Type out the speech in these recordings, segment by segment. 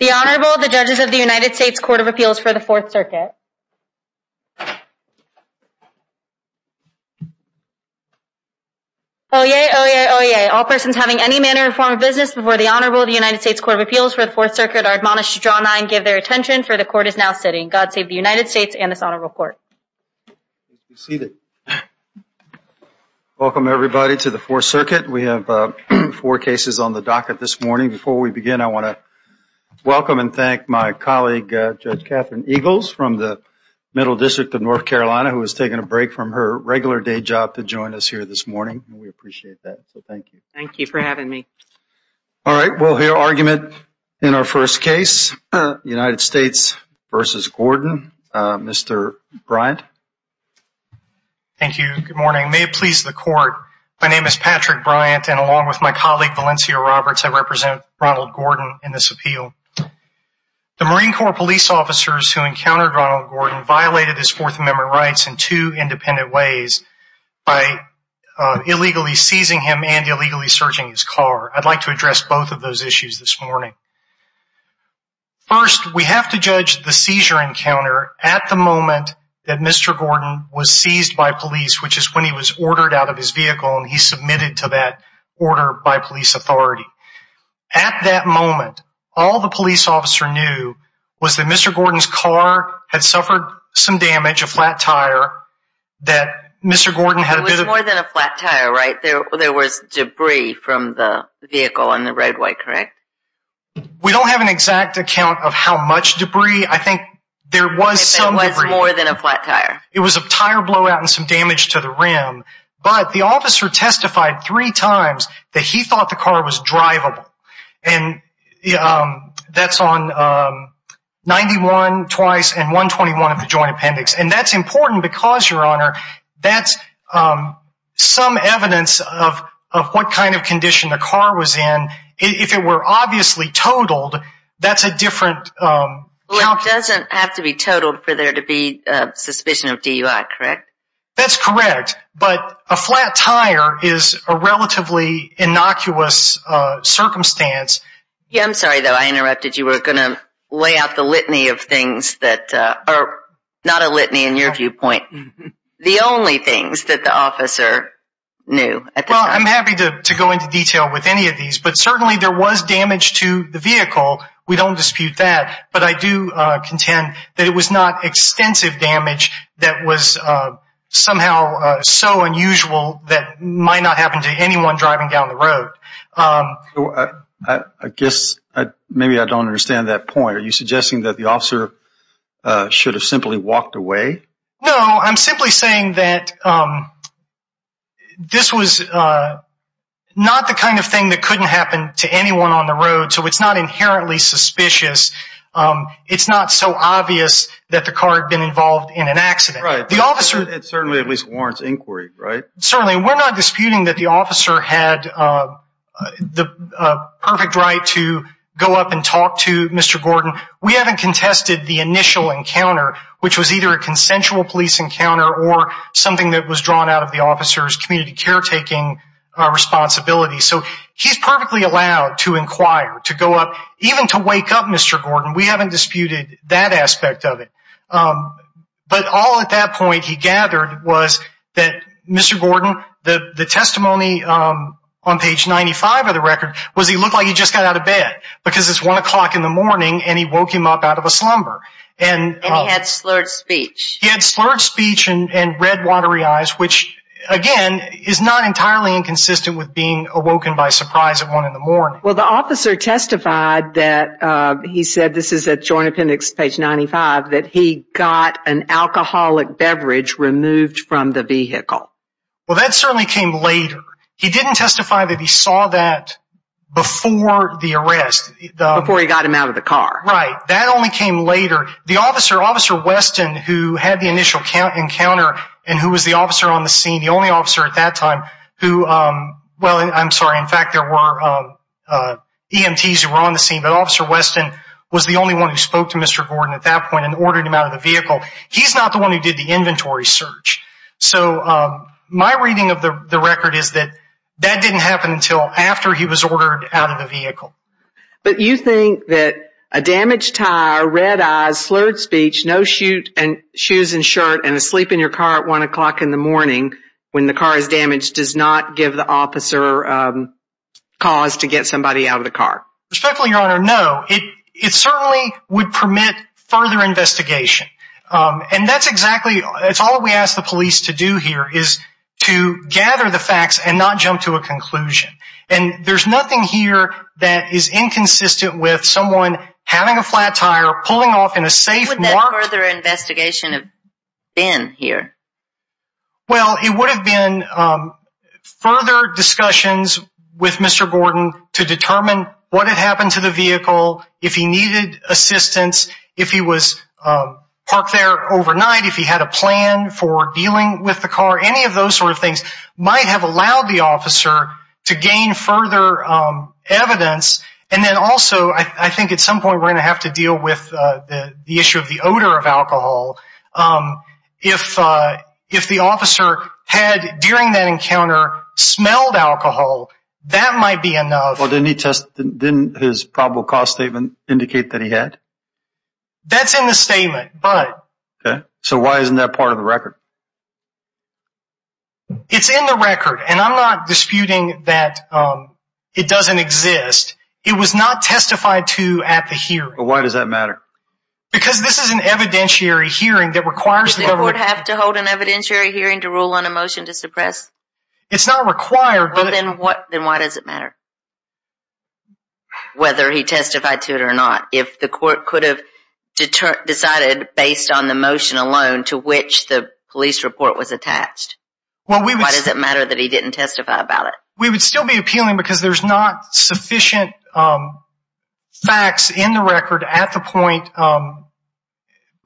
The Honorable, the Judges of the United States Court of Appeals for the Fourth Circuit. Oyez! Oyez! Oyez! All persons having any manner or form of business before the Honorable of the United States Court of Appeals for the Fourth Circuit are admonished to draw nine and give their attention for the Court is now sitting. God save the United States and this Honorable Court. Please be seated. Welcome everybody to the Fourth Circuit. We have four cases on the docket this morning. Before we begin, I want to welcome and thank my colleague Judge Catherine Eagles from the Middle District of North Carolina who is taking a break from her regular day job to join us here this morning. We appreciate that. So, thank you. Thank you for having me. All right. We will hear argument in our first case, United States v. Gordon. Mr. Bryant. Thank you. Good morning. May it please the Court, my name is Patrick Bryant and along with my colleague Valencia Roberts I represent Ronald Gordon in this appeal. The Marine Corps police officers who encountered Ronald Gordon violated his Fourth Amendment rights in two independent ways by illegally seizing him and illegally searching his car. I would like to address both of those issues this morning. First, we have to judge the seizure encounter at the moment that Mr. Gordon was seized by police which is when he was ordered out of his vehicle and he submitted to that order by police authority. At that moment, all the police officer knew was that Mr. Gordon's car had suffered some damage, a flat tire, that Mr. Gordon had a bit of... It was more than a flat tire, right? There was debris from the vehicle on the roadway, correct? We don't have an exact account of how much debris. I think there was some debris. It was more than a flat tire. It was a tire blowout and some damage to the rim, but the officer testified three times that he thought the car was drivable. That's on 91 twice and 121 of the joint appendix. That's important because, Your Honor, that's some evidence of what kind of condition the car was in. If it were obviously totaled, that's a different... It doesn't have to be totaled for there to be suspicion of DUI, correct? That's correct, but a flat tire is a relatively innocuous circumstance. I'm sorry, though, I interrupted. You were going to lay out the litany of things that are not a litany in your viewpoint. The only things that the officer knew at the time. I'm happy to go into detail with any of these, but certainly there was damage to the vehicle. We don't dispute that, but I do contend that it was not extensive damage that was somehow so unusual that might not happen to anyone driving down the road. I guess maybe I don't understand that point. Are you suggesting that the officer should have simply walked away? No, I'm simply saying that this was not the kind of thing that couldn't happen to anyone on the road, so it's not inherently suspicious. It's not so obvious that the car had been involved in an accident. The officer... It certainly at least warrants inquiry, right? Certainly. We're not disputing that the officer had the perfect right to go up and talk to Mr. Gordon. We haven't contested the initial encounter, which was either a consensual police encounter or something that was drawn out of the officer's community caretaking responsibility. He's perfectly allowed to inquire, to go up, even to wake up Mr. Gordon. We haven't disputed that aspect of it. But all at that point he gathered was that Mr. Gordon, the testimony on page 95 of the record was he looked like he just got out of bed because it's one o'clock in the morning and he woke him up out of a slumber. And he had slurred speech. He had slurred speech and red watery eyes, which again is not entirely inconsistent with being awoken by surprise at one in the morning. Well the officer testified that he said, this is at Joint Appendix page 95, that he got an alcoholic beverage removed from the vehicle. Well that certainly came later. He didn't testify that he saw that before the arrest. Before he got him out of the car. Right. That only came later. The officer, Officer Weston, who had the initial encounter and who was the officer on the scene, the only officer at that time who, well I'm sorry, in fact there were EMTs who were on the scene, but Officer Weston was the only one who spoke to Mr. Gordon at that point and ordered him out of the vehicle. He's not the one who did the inventory search. So my reading of the record is that that didn't happen until after he was ordered out of the vehicle. But you think that a damaged tire, red eyes, slurred speech, no shoes and shirt, and asleep in your car at 1 o'clock in the morning, when the car is damaged, does not give the officer cause to get somebody out of the car? Respectfully, Your Honor, no. It certainly would permit further investigation. And that's exactly, it's all we ask the police to do here, is to gather the facts and not jump to a conclusion. And there's nothing here that is inconsistent with someone having a flat tire, pulling off in a safe. So where would that further investigation have been here? Well it would have been further discussions with Mr. Gordon to determine what had happened to the vehicle, if he needed assistance, if he was parked there overnight, if he had a plan for dealing with the car, any of those sort of things might have allowed the officer to gain further evidence. And then also, I think at some point we're going to have to deal with the issue of the odor of alcohol, if the officer had, during that encounter, smelled alcohol, that might be enough. Well didn't he test, didn't his probable cause statement indicate that he had? That's in the statement, but. So why isn't that part of the record? It's in the record, and I'm not disputing that it doesn't exist. It was not testified to at the hearing. Why does that matter? Because this is an evidentiary hearing that requires the government. Does the court have to hold an evidentiary hearing to rule on a motion to suppress? It's not required. Well then why does it matter? Whether he testified to it or not, if the court could have decided based on the motion alone to which the police report was attached, why does it matter that he didn't testify about it? We would still be appealing because there's not sufficient facts in the record at the point of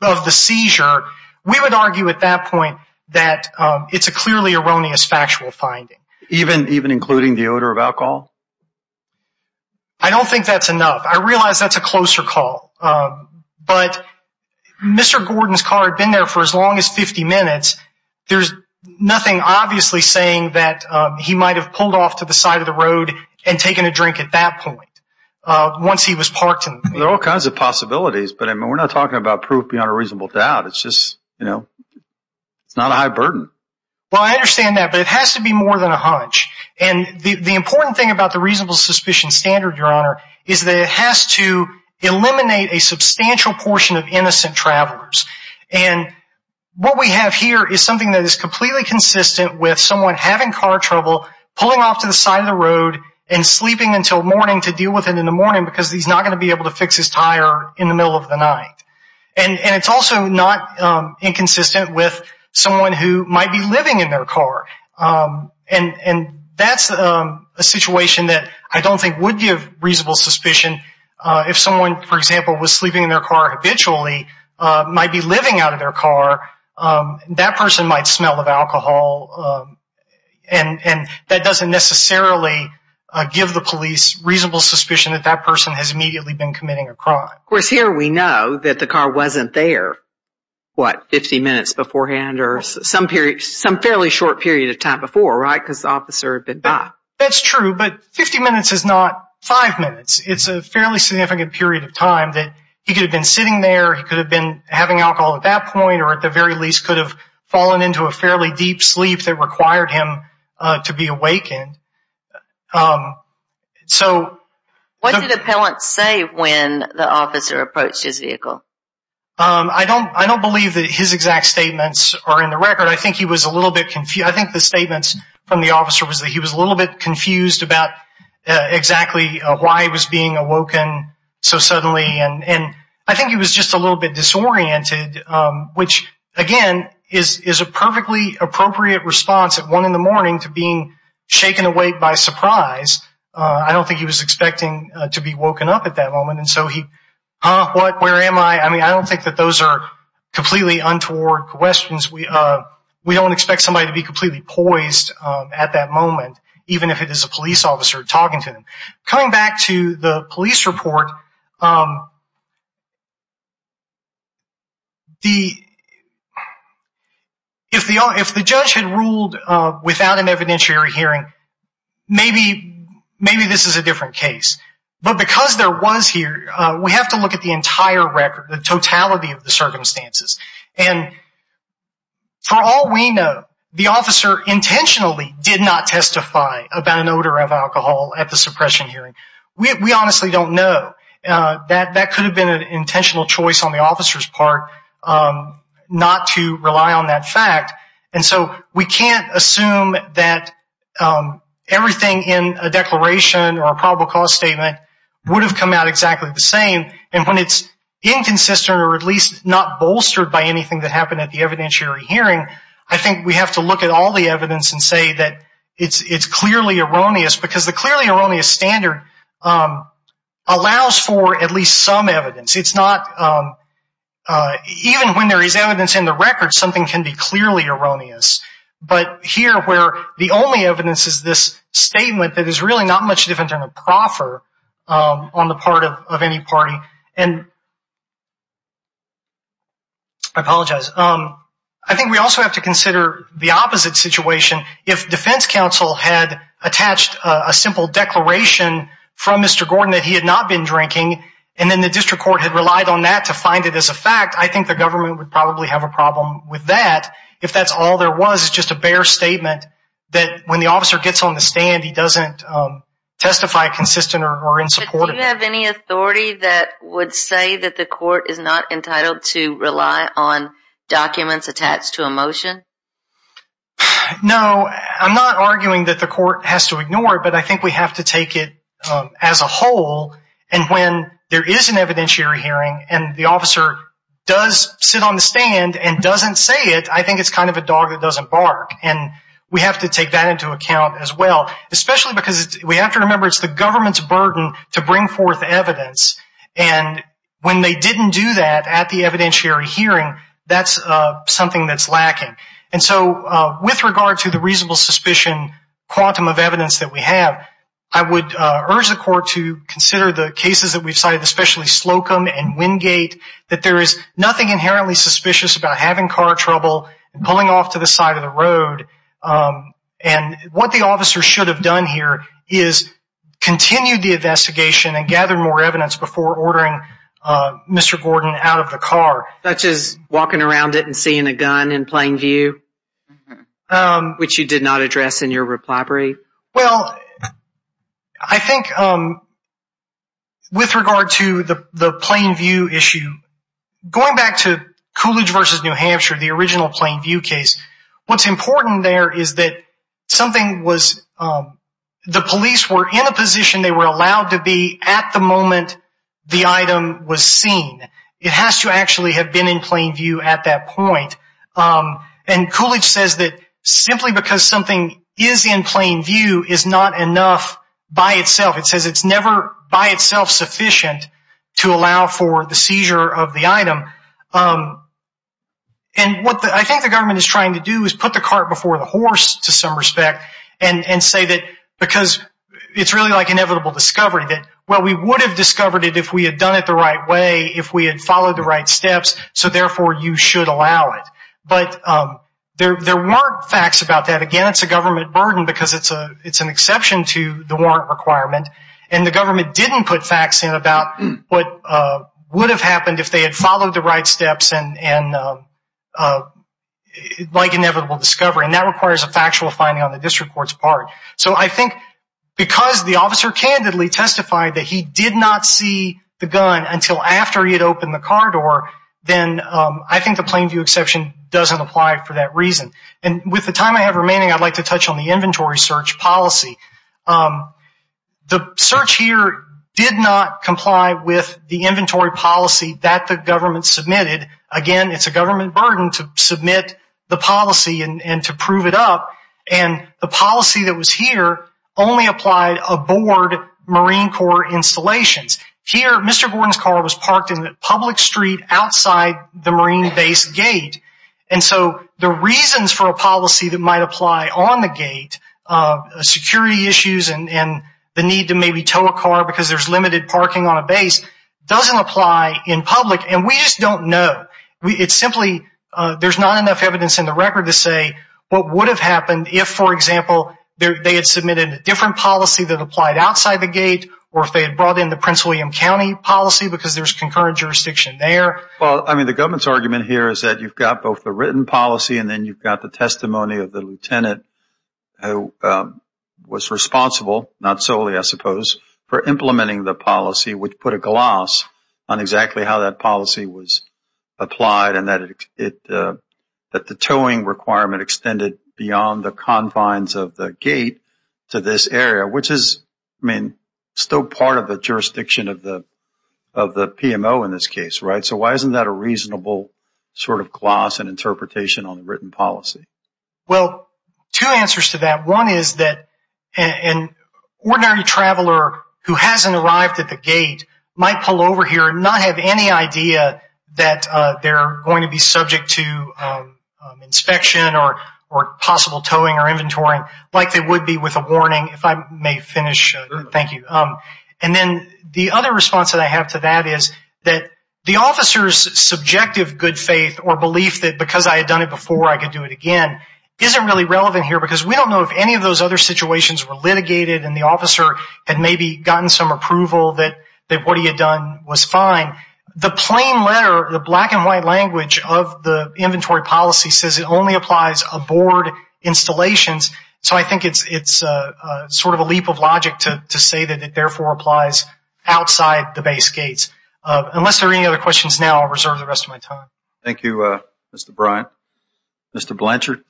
the seizure. We would argue at that point that it's a clearly erroneous factual finding. Even including the odor of alcohol? I don't think that's enough. I realize that's a closer call. But Mr. Gordon's car had been there for as long as 50 minutes. There's nothing obviously saying that he might have pulled off to the side of the road and taken a drink at that point once he was parked in the vehicle. There are all kinds of possibilities, but we're not talking about proof beyond a reasonable doubt. It's just, you know, it's not a high burden. Well, I understand that, but it has to be more than a hunch. And the important thing about the reasonable suspicion standard, Your Honor, is that it would eliminate a substantial portion of innocent travelers. And what we have here is something that is completely consistent with someone having car trouble, pulling off to the side of the road, and sleeping until morning to deal with it in the morning because he's not going to be able to fix his tire in the middle of the night. And it's also not inconsistent with someone who might be living in their car. And that's a situation that I don't think would give reasonable suspicion if someone, for example, was sleeping in their car habitually, might be living out of their car, that person might smell of alcohol, and that doesn't necessarily give the police reasonable suspicion that that person has immediately been committing a crime. Of course, here we know that the car wasn't there, what, 50 minutes beforehand or some period, some fairly short period of time before, right, because the officer had been back. That's true, but 50 minutes is not five minutes. It's a fairly significant period of time that he could have been sitting there, he could have been having alcohol at that point, or at the very least could have fallen into a fairly deep sleep that required him to be awakened. So... What did the appellant say when the officer approached his vehicle? I don't believe that his exact statements are in the record. I think he was a little bit, I think the statements from the officer was that he was a little bit confused about exactly why he was being awoken so suddenly, and I think he was just a little bit disoriented, which, again, is a perfectly appropriate response at one in the morning to being shaken awake by surprise. I don't think he was expecting to be woken up at that moment, and so he, huh, what, where am I? I mean, I don't think that those are completely untoward questions. We don't expect somebody to be completely poised at that moment, even if it is a police officer talking to him. Coming back to the police report, if the judge had ruled without an evidentiary hearing, maybe this is a different case. But because there was here, we have to look at the entire record, the totality of the For all we know, the officer intentionally did not testify about an odor of alcohol at the suppression hearing. We honestly don't know. That could have been an intentional choice on the officer's part not to rely on that fact, and so we can't assume that everything in a declaration or a probable cause statement would have come out exactly the same, and when it's inconsistent or at least not bolstered by anything that happened at the evidentiary hearing, I think we have to look at all the evidence and say that it's clearly erroneous, because the clearly erroneous standard allows for at least some evidence. It's not, even when there is evidence in the record, something can be clearly erroneous. But here, where the only evidence is this statement that is really not much different than a proffer on the part of any party, and I apologize. I think we also have to consider the opposite situation. If defense counsel had attached a simple declaration from Mr. Gordon that he had not been drinking, and then the district court had relied on that to find it as a fact, I think the government would probably have a problem with that. If that's all there was, it's just a bare statement that when the officer gets on the stand and doesn't say it, I think it's kind of a dog that doesn't bark, and we have to take that into account as well. Especially because we have to remember it's the government's burden to bring forth evidence, and when they didn't do that at the evidentiary hearing, that's something that's lacking. And so, with regard to the reasonable suspicion quantum of evidence that we have, I would urge the court to consider the cases that we've cited, especially Slocum and Wingate, that there is nothing inherently suspicious about having car trouble and pulling off to the side of the road, and what the officer should have done here is continued the investigation and gathered more evidence before ordering Mr. Gordon out of the car. Such as walking around it and seeing a gun in plain view, which you did not address in your reply brief? Well, I think with regard to the plain view issue, going back to Coolidge v. New Hampshire, the original plain view case, what's important there is that the police were in a position they were allowed to be at the moment the item was seen. It has to actually have been in plain view at that point, and Coolidge says that simply because something is in plain view is not enough by itself. It says it's never by itself sufficient to allow for the seizure of the item. And what I think the government is trying to do is put the cart before the horse to some respect and say that because it's really like inevitable discovery that, well, we would have discovered it if we had done it the right way, if we had followed the right steps, so therefore you should allow it. But there weren't facts about that. Again, it's a government burden because it's an exception to the warrant requirement, and the government didn't put facts in about what would have happened if they had followed the right steps like inevitable discovery, and that requires a factual finding on the district court's part. So I think because the officer candidly testified that he did not see the gun until after he had opened the car door, then I think the plain view exception doesn't apply for that reason. And with the time I have remaining, I'd like to touch on the inventory search policy. The search here did not comply with the inventory policy that the government submitted. Again, it's a government burden to submit the policy and to prove it up, and the policy that was here only applied aboard Marine Corps installations. Here, Mr. Gordon's car was parked in the public street outside the Marine base gate, and so the reasons for a policy that might apply on the gate, security issues and the need to maybe tow a car because there's limited parking on a base, doesn't apply in public. And we just don't know. It's simply there's not enough evidence in the record to say what would have happened if, for example, they had submitted a different policy that applied outside the gate or if they had brought in the Prince William County policy because there's concurrent jurisdiction there. Well, I mean, the government's argument here is that you've got both the written policy and then you've got the testimony of the lieutenant who was responsible, not solely, I suppose, for implementing the policy, which put a gloss on exactly how that policy was applied and that the towing requirement extended beyond the confines of the gate to this area, which is, I mean, still part of the jurisdiction of the of the PMO in this case. Right. So why isn't that a reasonable sort of gloss and interpretation on the written policy? Well, two answers to that. One is that an ordinary traveler who hasn't arrived at the gate might pull over here and not have any idea that they're going to be subject to inspection or or possible towing or inventory like they would be with a warning. If I may finish. Thank you. And then the other response that I have to that is that the officer's subjective good faith or belief that because I had done it before, I could do it again isn't really relevant here because we don't know if any of those other situations were litigated and the officer had maybe gotten some approval that what he had done was fine. The plain letter, the black and white language of the inventory policy says it only applies aboard installations. So I think it's it's sort of a leap of logic to say that it therefore applies outside the investigation. If there are no further questions now, I'll reserve the rest of my time. Thank you, Mr. Bryant. Mr. Blanchard.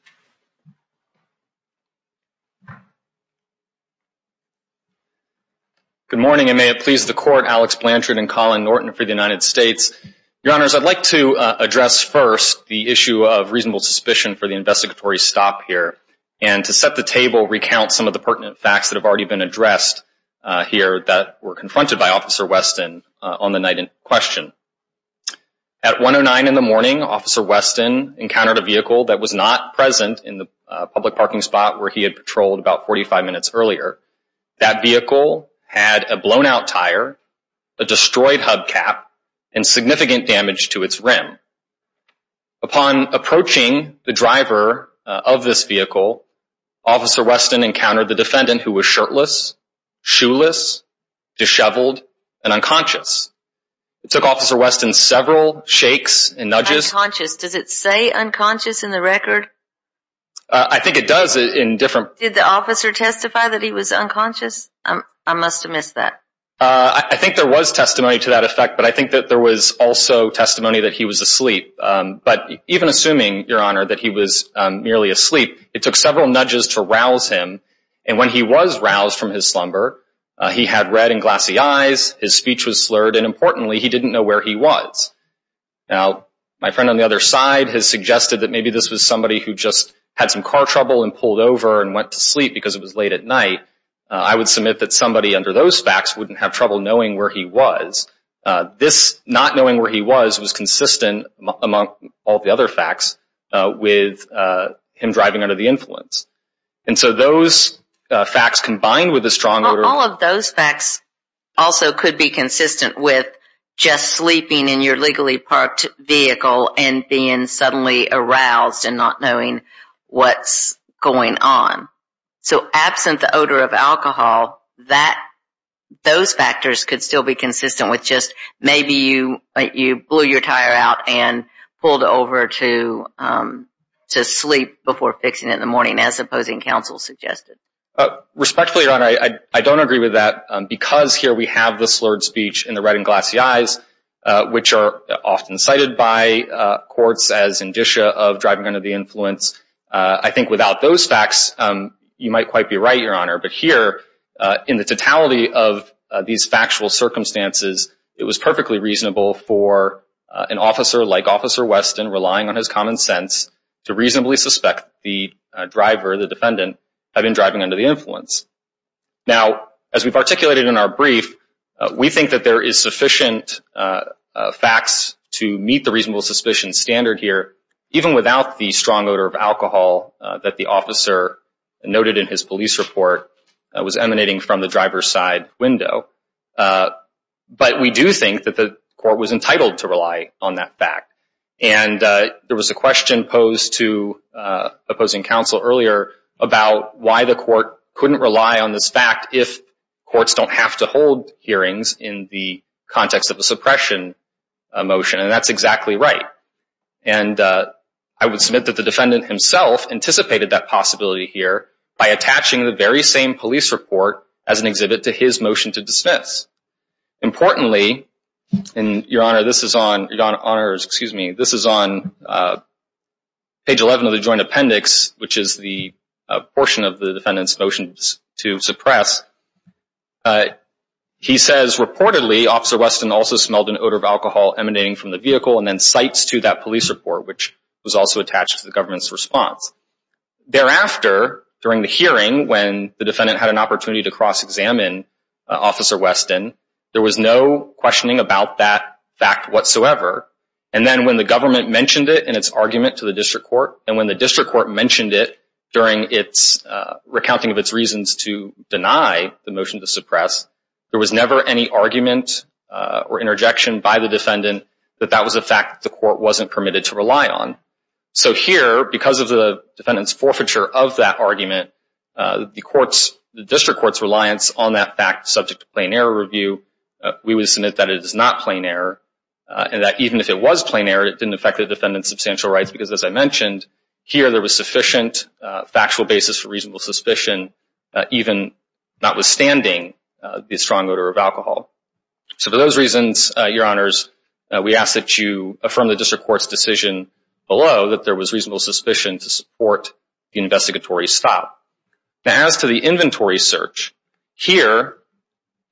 Good morning, and may it please the court, Alex Blanchard and Colin Norton for the United States. Your honors, I'd like to address first the issue of reasonable suspicion for the investigatory stop here and to set the table, recount some of the pertinent facts that have already been addressed here that were confronted by Officer Weston on the night in question. At 109 in the morning, Officer Weston encountered a vehicle that was not present in the public parking spot where he had patrolled about 45 minutes earlier. That vehicle had a blown out tire, a destroyed hubcap and significant damage to its rim. Upon approaching the driver of this vehicle, Officer Weston encountered the defendant who was shirtless, shoeless, disheveled and unconscious. It took Officer Weston several shakes and nudges. Unconscious. Does it say unconscious in the record? I think it does in different. Did the officer testify that he was unconscious? I must have missed that. I think there was testimony to that effect, but I think that there was also testimony that he was asleep. But even assuming, Your Honor, that he was merely asleep, it took several nudges to rouse him. And when he was roused from his slumber, he had red and glassy eyes. His speech was slurred. And importantly, he didn't know where he was. Now, my friend on the other side has suggested that maybe this was somebody who just had some car trouble and pulled over and went to sleep because it was late at night. I would submit that somebody under those facts wouldn't have trouble knowing where he was. This not knowing where he was was consistent among all the other facts with him driving under the influence. And so those facts combined with a strong order. All of those facts also could be consistent with just sleeping in your legally parked vehicle and being suddenly aroused and not knowing what's going on. So absent the odor of alcohol, those factors could still be consistent with just maybe you blew your tire out and pulled over to sleep before fixing it in the morning, as opposing counsel suggested. Respectfully, Your Honor, I don't agree with that because here we have the slurred speech and the red and glassy eyes, which are often cited by courts as indicia of driving under the influence. I think without those facts, you might quite be right, Your Honor. But here in the totality of these factual circumstances, it was perfectly reasonable for an officer like Officer Weston relying on his common sense to reasonably suspect the driver, the defendant, had been driving under the influence. Now, as we've articulated in our brief, we think that there is sufficient facts to meet the reasonable suspicion standard here, even without the strong odor of alcohol that the officer noted in his police report was emanating from the driver's side window. But we do think that the court was entitled to rely on that fact. And there was a question posed to opposing counsel earlier about why the court couldn't rely on this fact if courts don't have to hold hearings in the context of a suppression motion. And that's exactly right. And I would submit that the defendant himself anticipated that possibility here by attaching the very same police report as an exhibit to his motion to dismiss. Importantly, Your Honor, this is on page 11 of the joint appendix, which is the portion of the defendant's motion to suppress. He says, reportedly, Officer Weston also smelled an odor of alcohol emanating from the vehicle and then cites to that police report, which was also attached to the government's response. Thereafter, during the hearing, when the defendant had an opportunity to cross-examine Officer Weston, there was no questioning about that fact whatsoever. And then when the government mentioned it in its argument to the district court, and when the district court mentioned it during its recounting of its reasons to deny the motion to suppress, there was never any argument or interjection by the defendant that that was a fact the court wasn't permitted to rely on. So here, because of the defendant's forfeiture of that argument, the district court's reliance on that fact subject to plain error review, we would submit that it is not plain error and that even if it was plain error, it didn't affect the defendant's substantial rights because, as I mentioned, here there was sufficient factual basis for reasonable suspicion, even notwithstanding the strong odor of alcohol. So for those reasons, Your Honors, we ask that you affirm the district court's decision below that there was reasonable suspicion to support the investigatory stop. Now, as to the inventory search, here,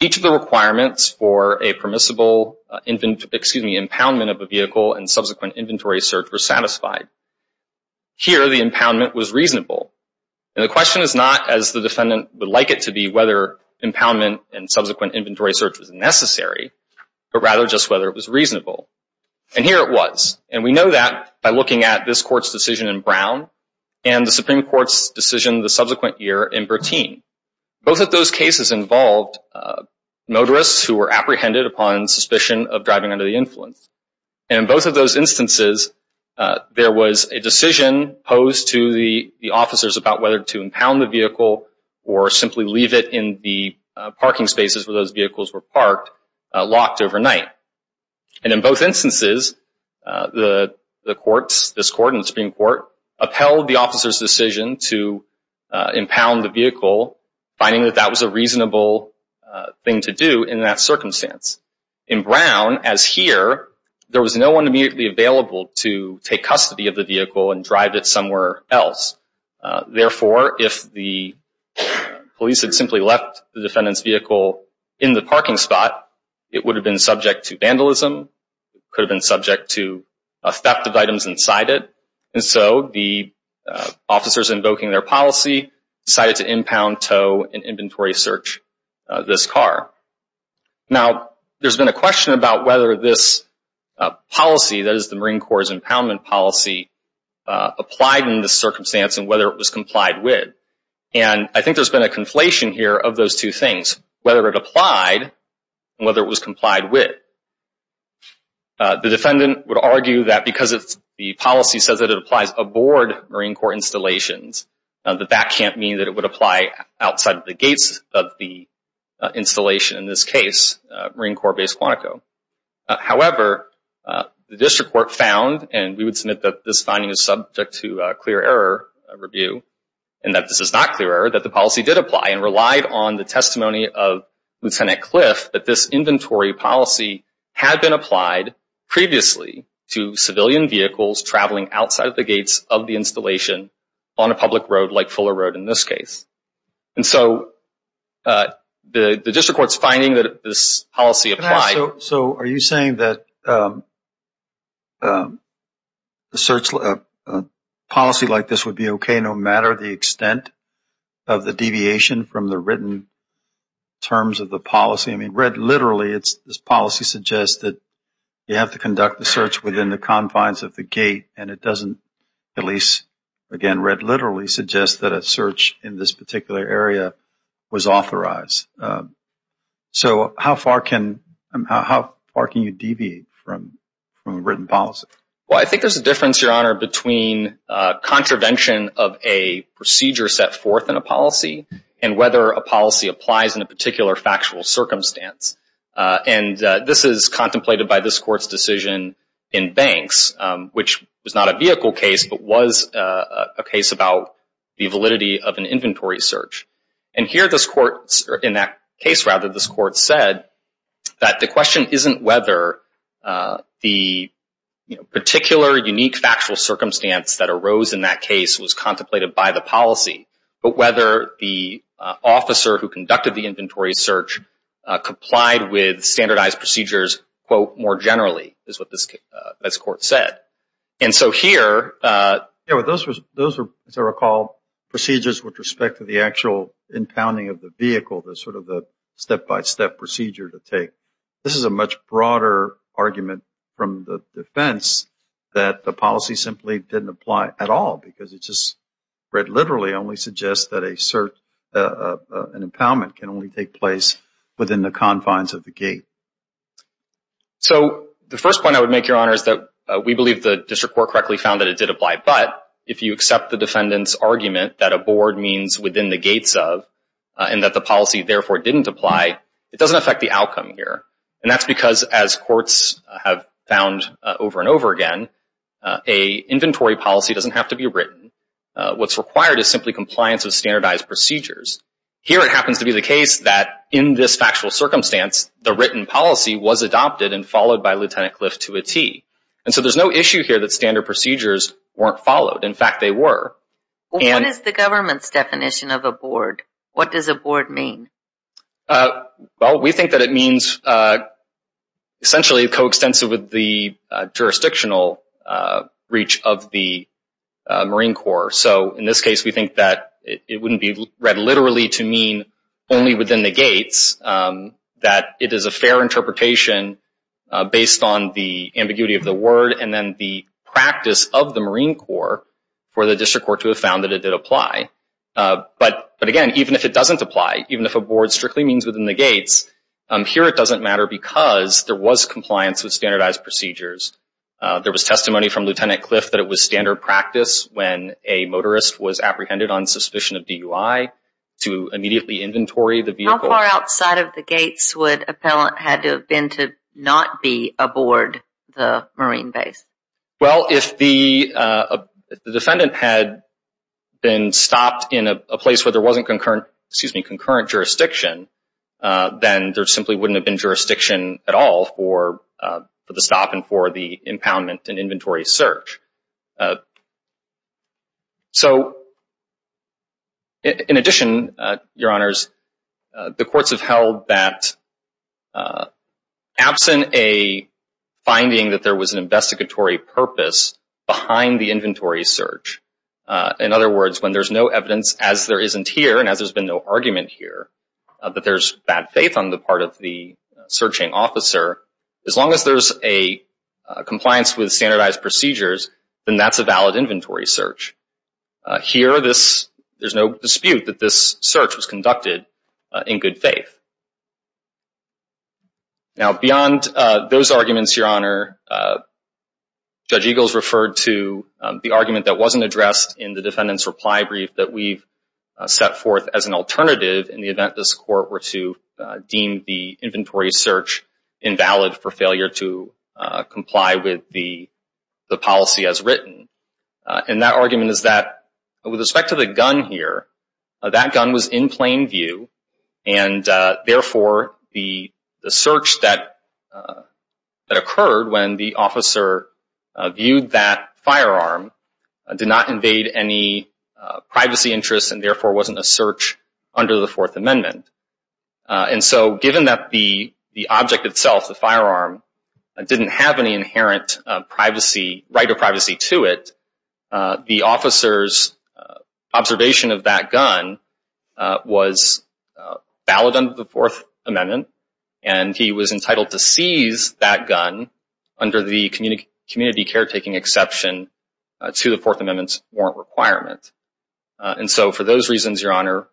each of the requirements for a permissible impoundment of a vehicle and subsequent inventory search were satisfied. Here, the impoundment was reasonable. And the question is not, as the defendant would like it to be, whether impoundment and subsequent inventory search was necessary, but rather just whether it was reasonable. And here it was. And we know that by looking at this Court's decision in Brown and the Supreme Court's subsequent year in Bertin, both of those cases involved motorists who were apprehended upon suspicion of driving under the influence. And in both of those instances, there was a decision posed to the officers about whether to impound the vehicle or simply leave it in the parking spaces where those vehicles were parked, locked overnight. And in both instances, the courts, this Court and the Supreme Court, upheld the officer's decision to impound the vehicle, finding that that was a reasonable thing to do in that circumstance. In Brown, as here, there was no one immediately available to take custody of the vehicle and drive it somewhere else. Therefore, if the police had simply left the defendant's vehicle in the parking spot, it would have been subject to vandalism, could have been subject to a theft of items inside it. And so the officers invoking their policy decided to impound, tow, and inventory search this car. Now, there's been a question about whether this policy, that is the Marine Corps' impoundment policy, applied in this circumstance and whether it was complied with. And I think there's been a conflation here of those two things, whether it applied and whether it was complied with. The defendant would argue that because the policy says that it applies aboard Marine Corps installations, that that can't mean that it would apply outside of the gates of the installation, in this case, Marine Corps Base Quantico. However, the District Court found, and we would submit that this finding is subject to clear error review, and that this is not clear error, that the policy did apply and relied on the testimony of Lieutenant Cliff, that this inventory policy was not had been applied previously to civilian vehicles traveling outside the gates of the installation on a public road like Fuller Road, in this case. And so the District Court's finding that this policy applied. So are you saying that a policy like this would be okay no matter the extent of the deviation from the written terms of the policy? I mean, read literally, this policy suggests that you have to conduct the search within the confines of the gate, and it doesn't, at least, again, read literally, suggest that a search in this particular area was authorized. So how far can you deviate from a written policy? Well, I think there's a difference, Your Honor, between contravention of a procedure set forth in a policy and whether a policy applies in a particular factual circumstance. And this is contemplated by this Court's decision in Banks, which was not a vehicle case, but was a case about the validity of an inventory search. And here this Court, in that case, rather, this Court said that the question isn't whether the particular unique factual circumstance that arose in that case was contemplated by the policy, but whether the officer who conducted the inventory search complied with standardized procedures, quote, more generally, is what this Court said. And so here... Yeah, but those were, as I recall, procedures with respect to the actual impounding of the vehicle, the sort of the step-by-step procedure to take. This is a much broader argument from the defense that the policy simply didn't apply at all because it just, read literally, only suggests that an impoundment can only take place within the confines of the gate. So the first point I would make, Your Honor, is that we believe the District Court correctly found that it did apply. But if you accept the defendant's argument that a board means within the gates of and that the policy, therefore, didn't apply, it doesn't affect the outcome here. And that's because, as courts have found over and over again, a inventory policy doesn't have to be written. What's required is simply compliance with standardized procedures. Here, it happens to be the case that in this factual circumstance, the written policy was adopted and followed by Lt. Cliff to a T. And so there's no issue here that standard procedures weren't followed. In fact, they were. What is the government's definition of a board? What does a board mean? Well, we think that it means, essentially, coextensive with the jurisdictional reach of the Marine Corps. So in this case, we think that it wouldn't be read literally to mean only within the gates, that it is a fair interpretation based on the ambiguity of the word and then the practice of the Marine Corps for the District Court to have found that it did apply. But again, even if it doesn't apply, even if a board strictly means within the gates, here it doesn't matter because there was compliance with standardized procedures. There was testimony from Lt. Cliff that it was standard practice when a motorist was apprehended on suspicion of DUI to immediately inventory the vehicle. How far outside of the gates would appellant had to have been to not be aboard the Marine base? Well, if the defendant had been stopped in a place where there wasn't concurrent, excuse me, concurrent jurisdiction, then there simply wouldn't have been jurisdiction at all for the stop and for the impoundment and inventory search. So in addition, Your Honors, the courts have held that absent a finding that there was an investigatory purpose behind the inventory search, in other words, when there's no evidence, as there isn't here and as there's been no argument here, that there's bad faith on the part of the searching officer, as long as there's a compliance with standardized procedures, then that's a valid inventory search. Here, there's no dispute that this search was conducted in good faith. Now beyond those arguments, Your Honor, Judge Eagles referred to the argument that wasn't addressed in the defendant's reply brief that we've set forth as an alternative in the court were to deem the inventory search invalid for failure to comply with the policy as written. And that argument is that with respect to the gun here, that gun was in plain view and therefore the search that occurred when the officer viewed that firearm did not invade any privacy interests and therefore wasn't a search under the Fourth Amendment. And so given that the object itself, the firearm, didn't have any inherent right or privacy to it, the officer's observation of that gun was valid under the Fourth Amendment and he was entitled to seize that gun under the community caretaking exception to the Fourth Amendment's requirement. And so for those reasons, Your Honor,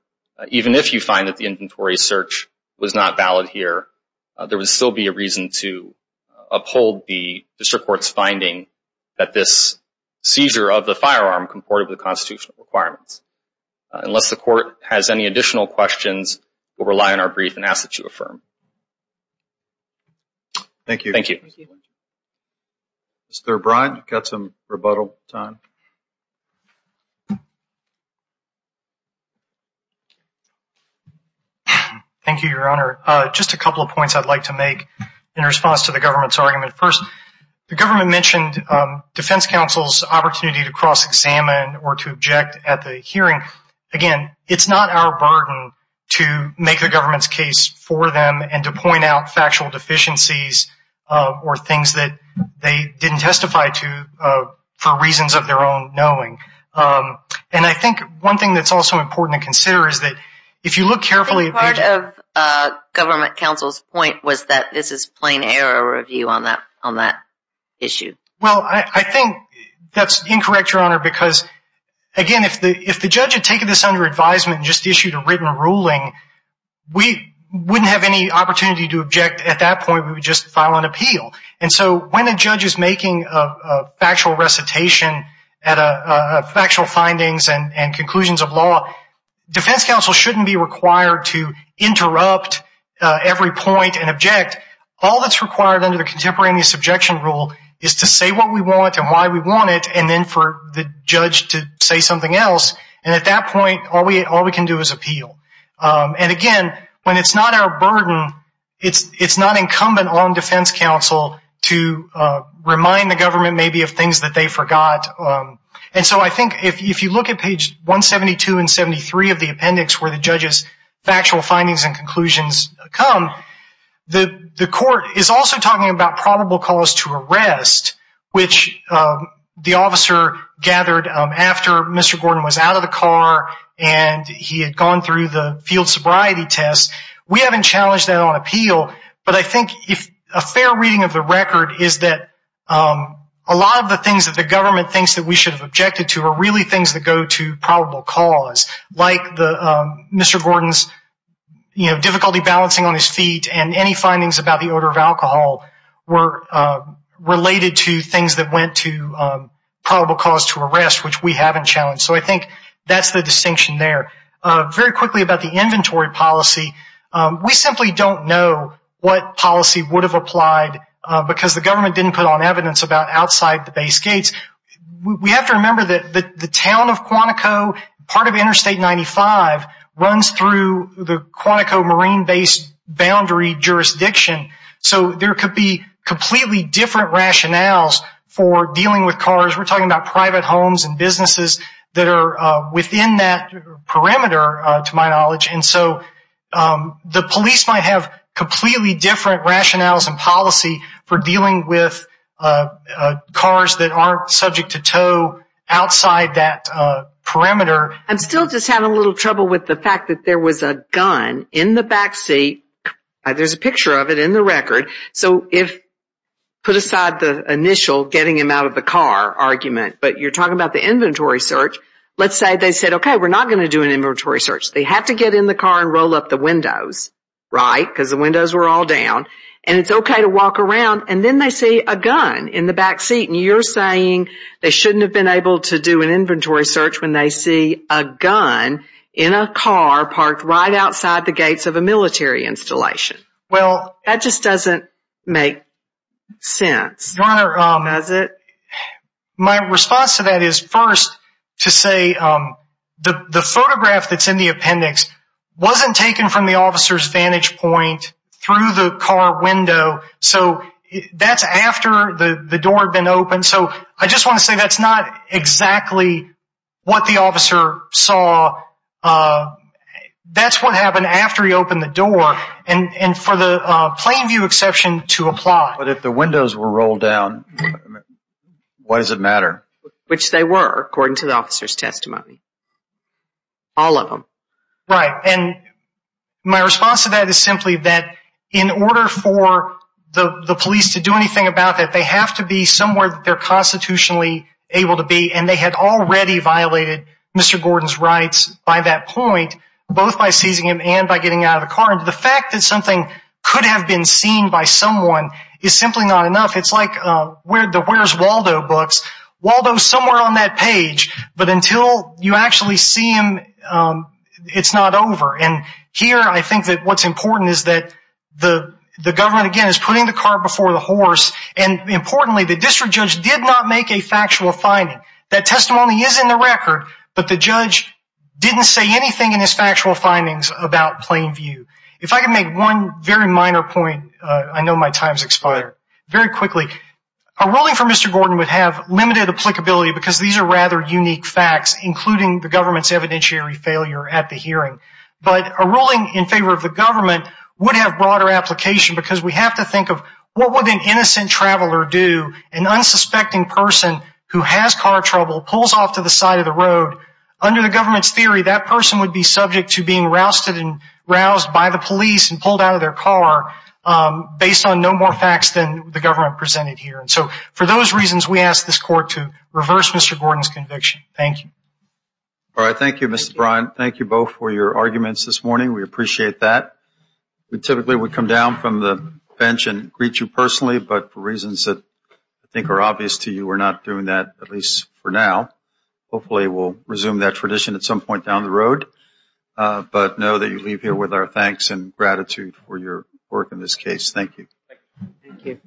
even if you find that the inventory search was not valid here, there would still be a reason to uphold the district court's finding that this seizure of the firearm comported with the constitutional requirements. Unless the court has any additional questions, we'll rely on our brief and ask that you affirm. Thank you. Thank you. Mr. Bryant, you've got some rebuttal time. Thank you, Your Honor. Just a couple of points I'd like to make in response to the government's argument. First, the government mentioned defense counsel's opportunity to cross-examine or to object at the hearing. Again, it's not our burden to make the government's case for them and to point out factual deficiencies or things that they didn't testify to for reasons of their own knowing. And I think one thing that's also important to consider is that if you look carefully at the… I think part of government counsel's point was that this is plain error review on that issue. Well, I think that's incorrect, Your Honor, because, again, if the judge had taken this under advisement and just issued a written ruling, we wouldn't have any opportunity to object at that point. We would just file an appeal. And so when a judge is making a factual recitation, factual findings and conclusions of law, defense counsel shouldn't be required to interrupt every point and object. All that's required under the contemporaneous objection rule is to say what we want and why we want it and then for the judge to say something else. And at that point, all we can do is appeal. And again, when it's not our burden, it's not incumbent on defense counsel to remind the government maybe of things that they forgot. And so I think if you look at page 172 and 173 of the appendix where the judge's factual findings and conclusions come, the court is also talking about probable cause to arrest, which the officer gathered after Mr. Gordon was out of the car and he had gone through the field sobriety test, we haven't challenged that on appeal. But I think a fair reading of the record is that a lot of the things that the government thinks that we should have objected to are really things that go to probable cause, like Mr. Gordon's difficulty balancing on his feet and any findings about the odor of alcohol were related to things that went to probable cause to arrest, which we haven't challenged. So I think that's the distinction there. Very quickly about the inventory policy. We simply don't know what policy would have applied because the government didn't put on evidence about outside the base gates. We have to remember that the town of Quantico, part of Interstate 95, runs through the Quantico marine-based boundary jurisdiction. So there could be completely different rationales for dealing with cars. We're talking about private homes and businesses that are within that perimeter, to my knowledge. And so the police might have completely different rationales and policy for dealing with cars that aren't subject to tow outside that perimeter. I'm still just having a little trouble with the fact that there was a gun in the backseat. There's a picture of it in the record. So put aside the initial getting him out of the car argument, but you're talking about the inventory search. Let's say they said, OK, we're not going to do an inventory search. They have to get in the car and roll up the windows, right? Because the windows were all down. And it's OK to walk around. And then they see a gun in the backseat. And you're saying they shouldn't have been able to do an inventory search when they see a gun in a car parked right outside the gates of a military installation. Well, that just doesn't make sense, does it? My response to that is first to say the photograph that's in the appendix wasn't taken from the officer's vantage point through the car window. So that's after the door had been open. So I just want to say that's not exactly what the officer saw. That's what happened after he opened the door. And for the plain view exception to apply. But if the windows were rolled down, what does it matter? Which they were, according to the officer's testimony. All of them. Right. And my response to that is simply that in order for the police to do anything about that, they have to be somewhere that they're constitutionally able to be. And they had already violated Mr. Gordon's rights by that point, both by seizing him and by getting out of the car. The fact that something could have been seen by someone is simply not enough. It's like the Where's Waldo books. Waldo's somewhere on that page. But until you actually see him, it's not over. And here I think that what's important is that the government, again, is putting the car before the horse. And importantly, the district judge did not make a factual finding. That testimony is in the record. But the judge didn't say anything in his factual findings about plain view. If I can make one very minor point, I know my time's expired. Very quickly, a ruling for Mr. Gordon would have limited applicability because these are rather unique facts, including the government's evidentiary failure at the hearing. But a ruling in favor of the government would have broader application because we have to think of what would an innocent traveler do, an unsuspecting person who has car trouble, pulls off to the side of the road. Under the government's theory, that person would be subject to being rousted and roused by the police and pulled out of their car based on no more facts than the government presented here. And so for those reasons, we ask this court to reverse Mr. Gordon's conviction. Thank you. All right. Thank you, Mr. Bryan. Thank you both for your arguments this morning. We appreciate that. We typically would come down from the bench and greet you personally. But for reasons that I think are obvious to you, we're not doing that, at least for now. Hopefully, we'll resume that tradition at some point down the road. But know that you leave here with our thanks and gratitude for your work in this case. Thank you. Thank you.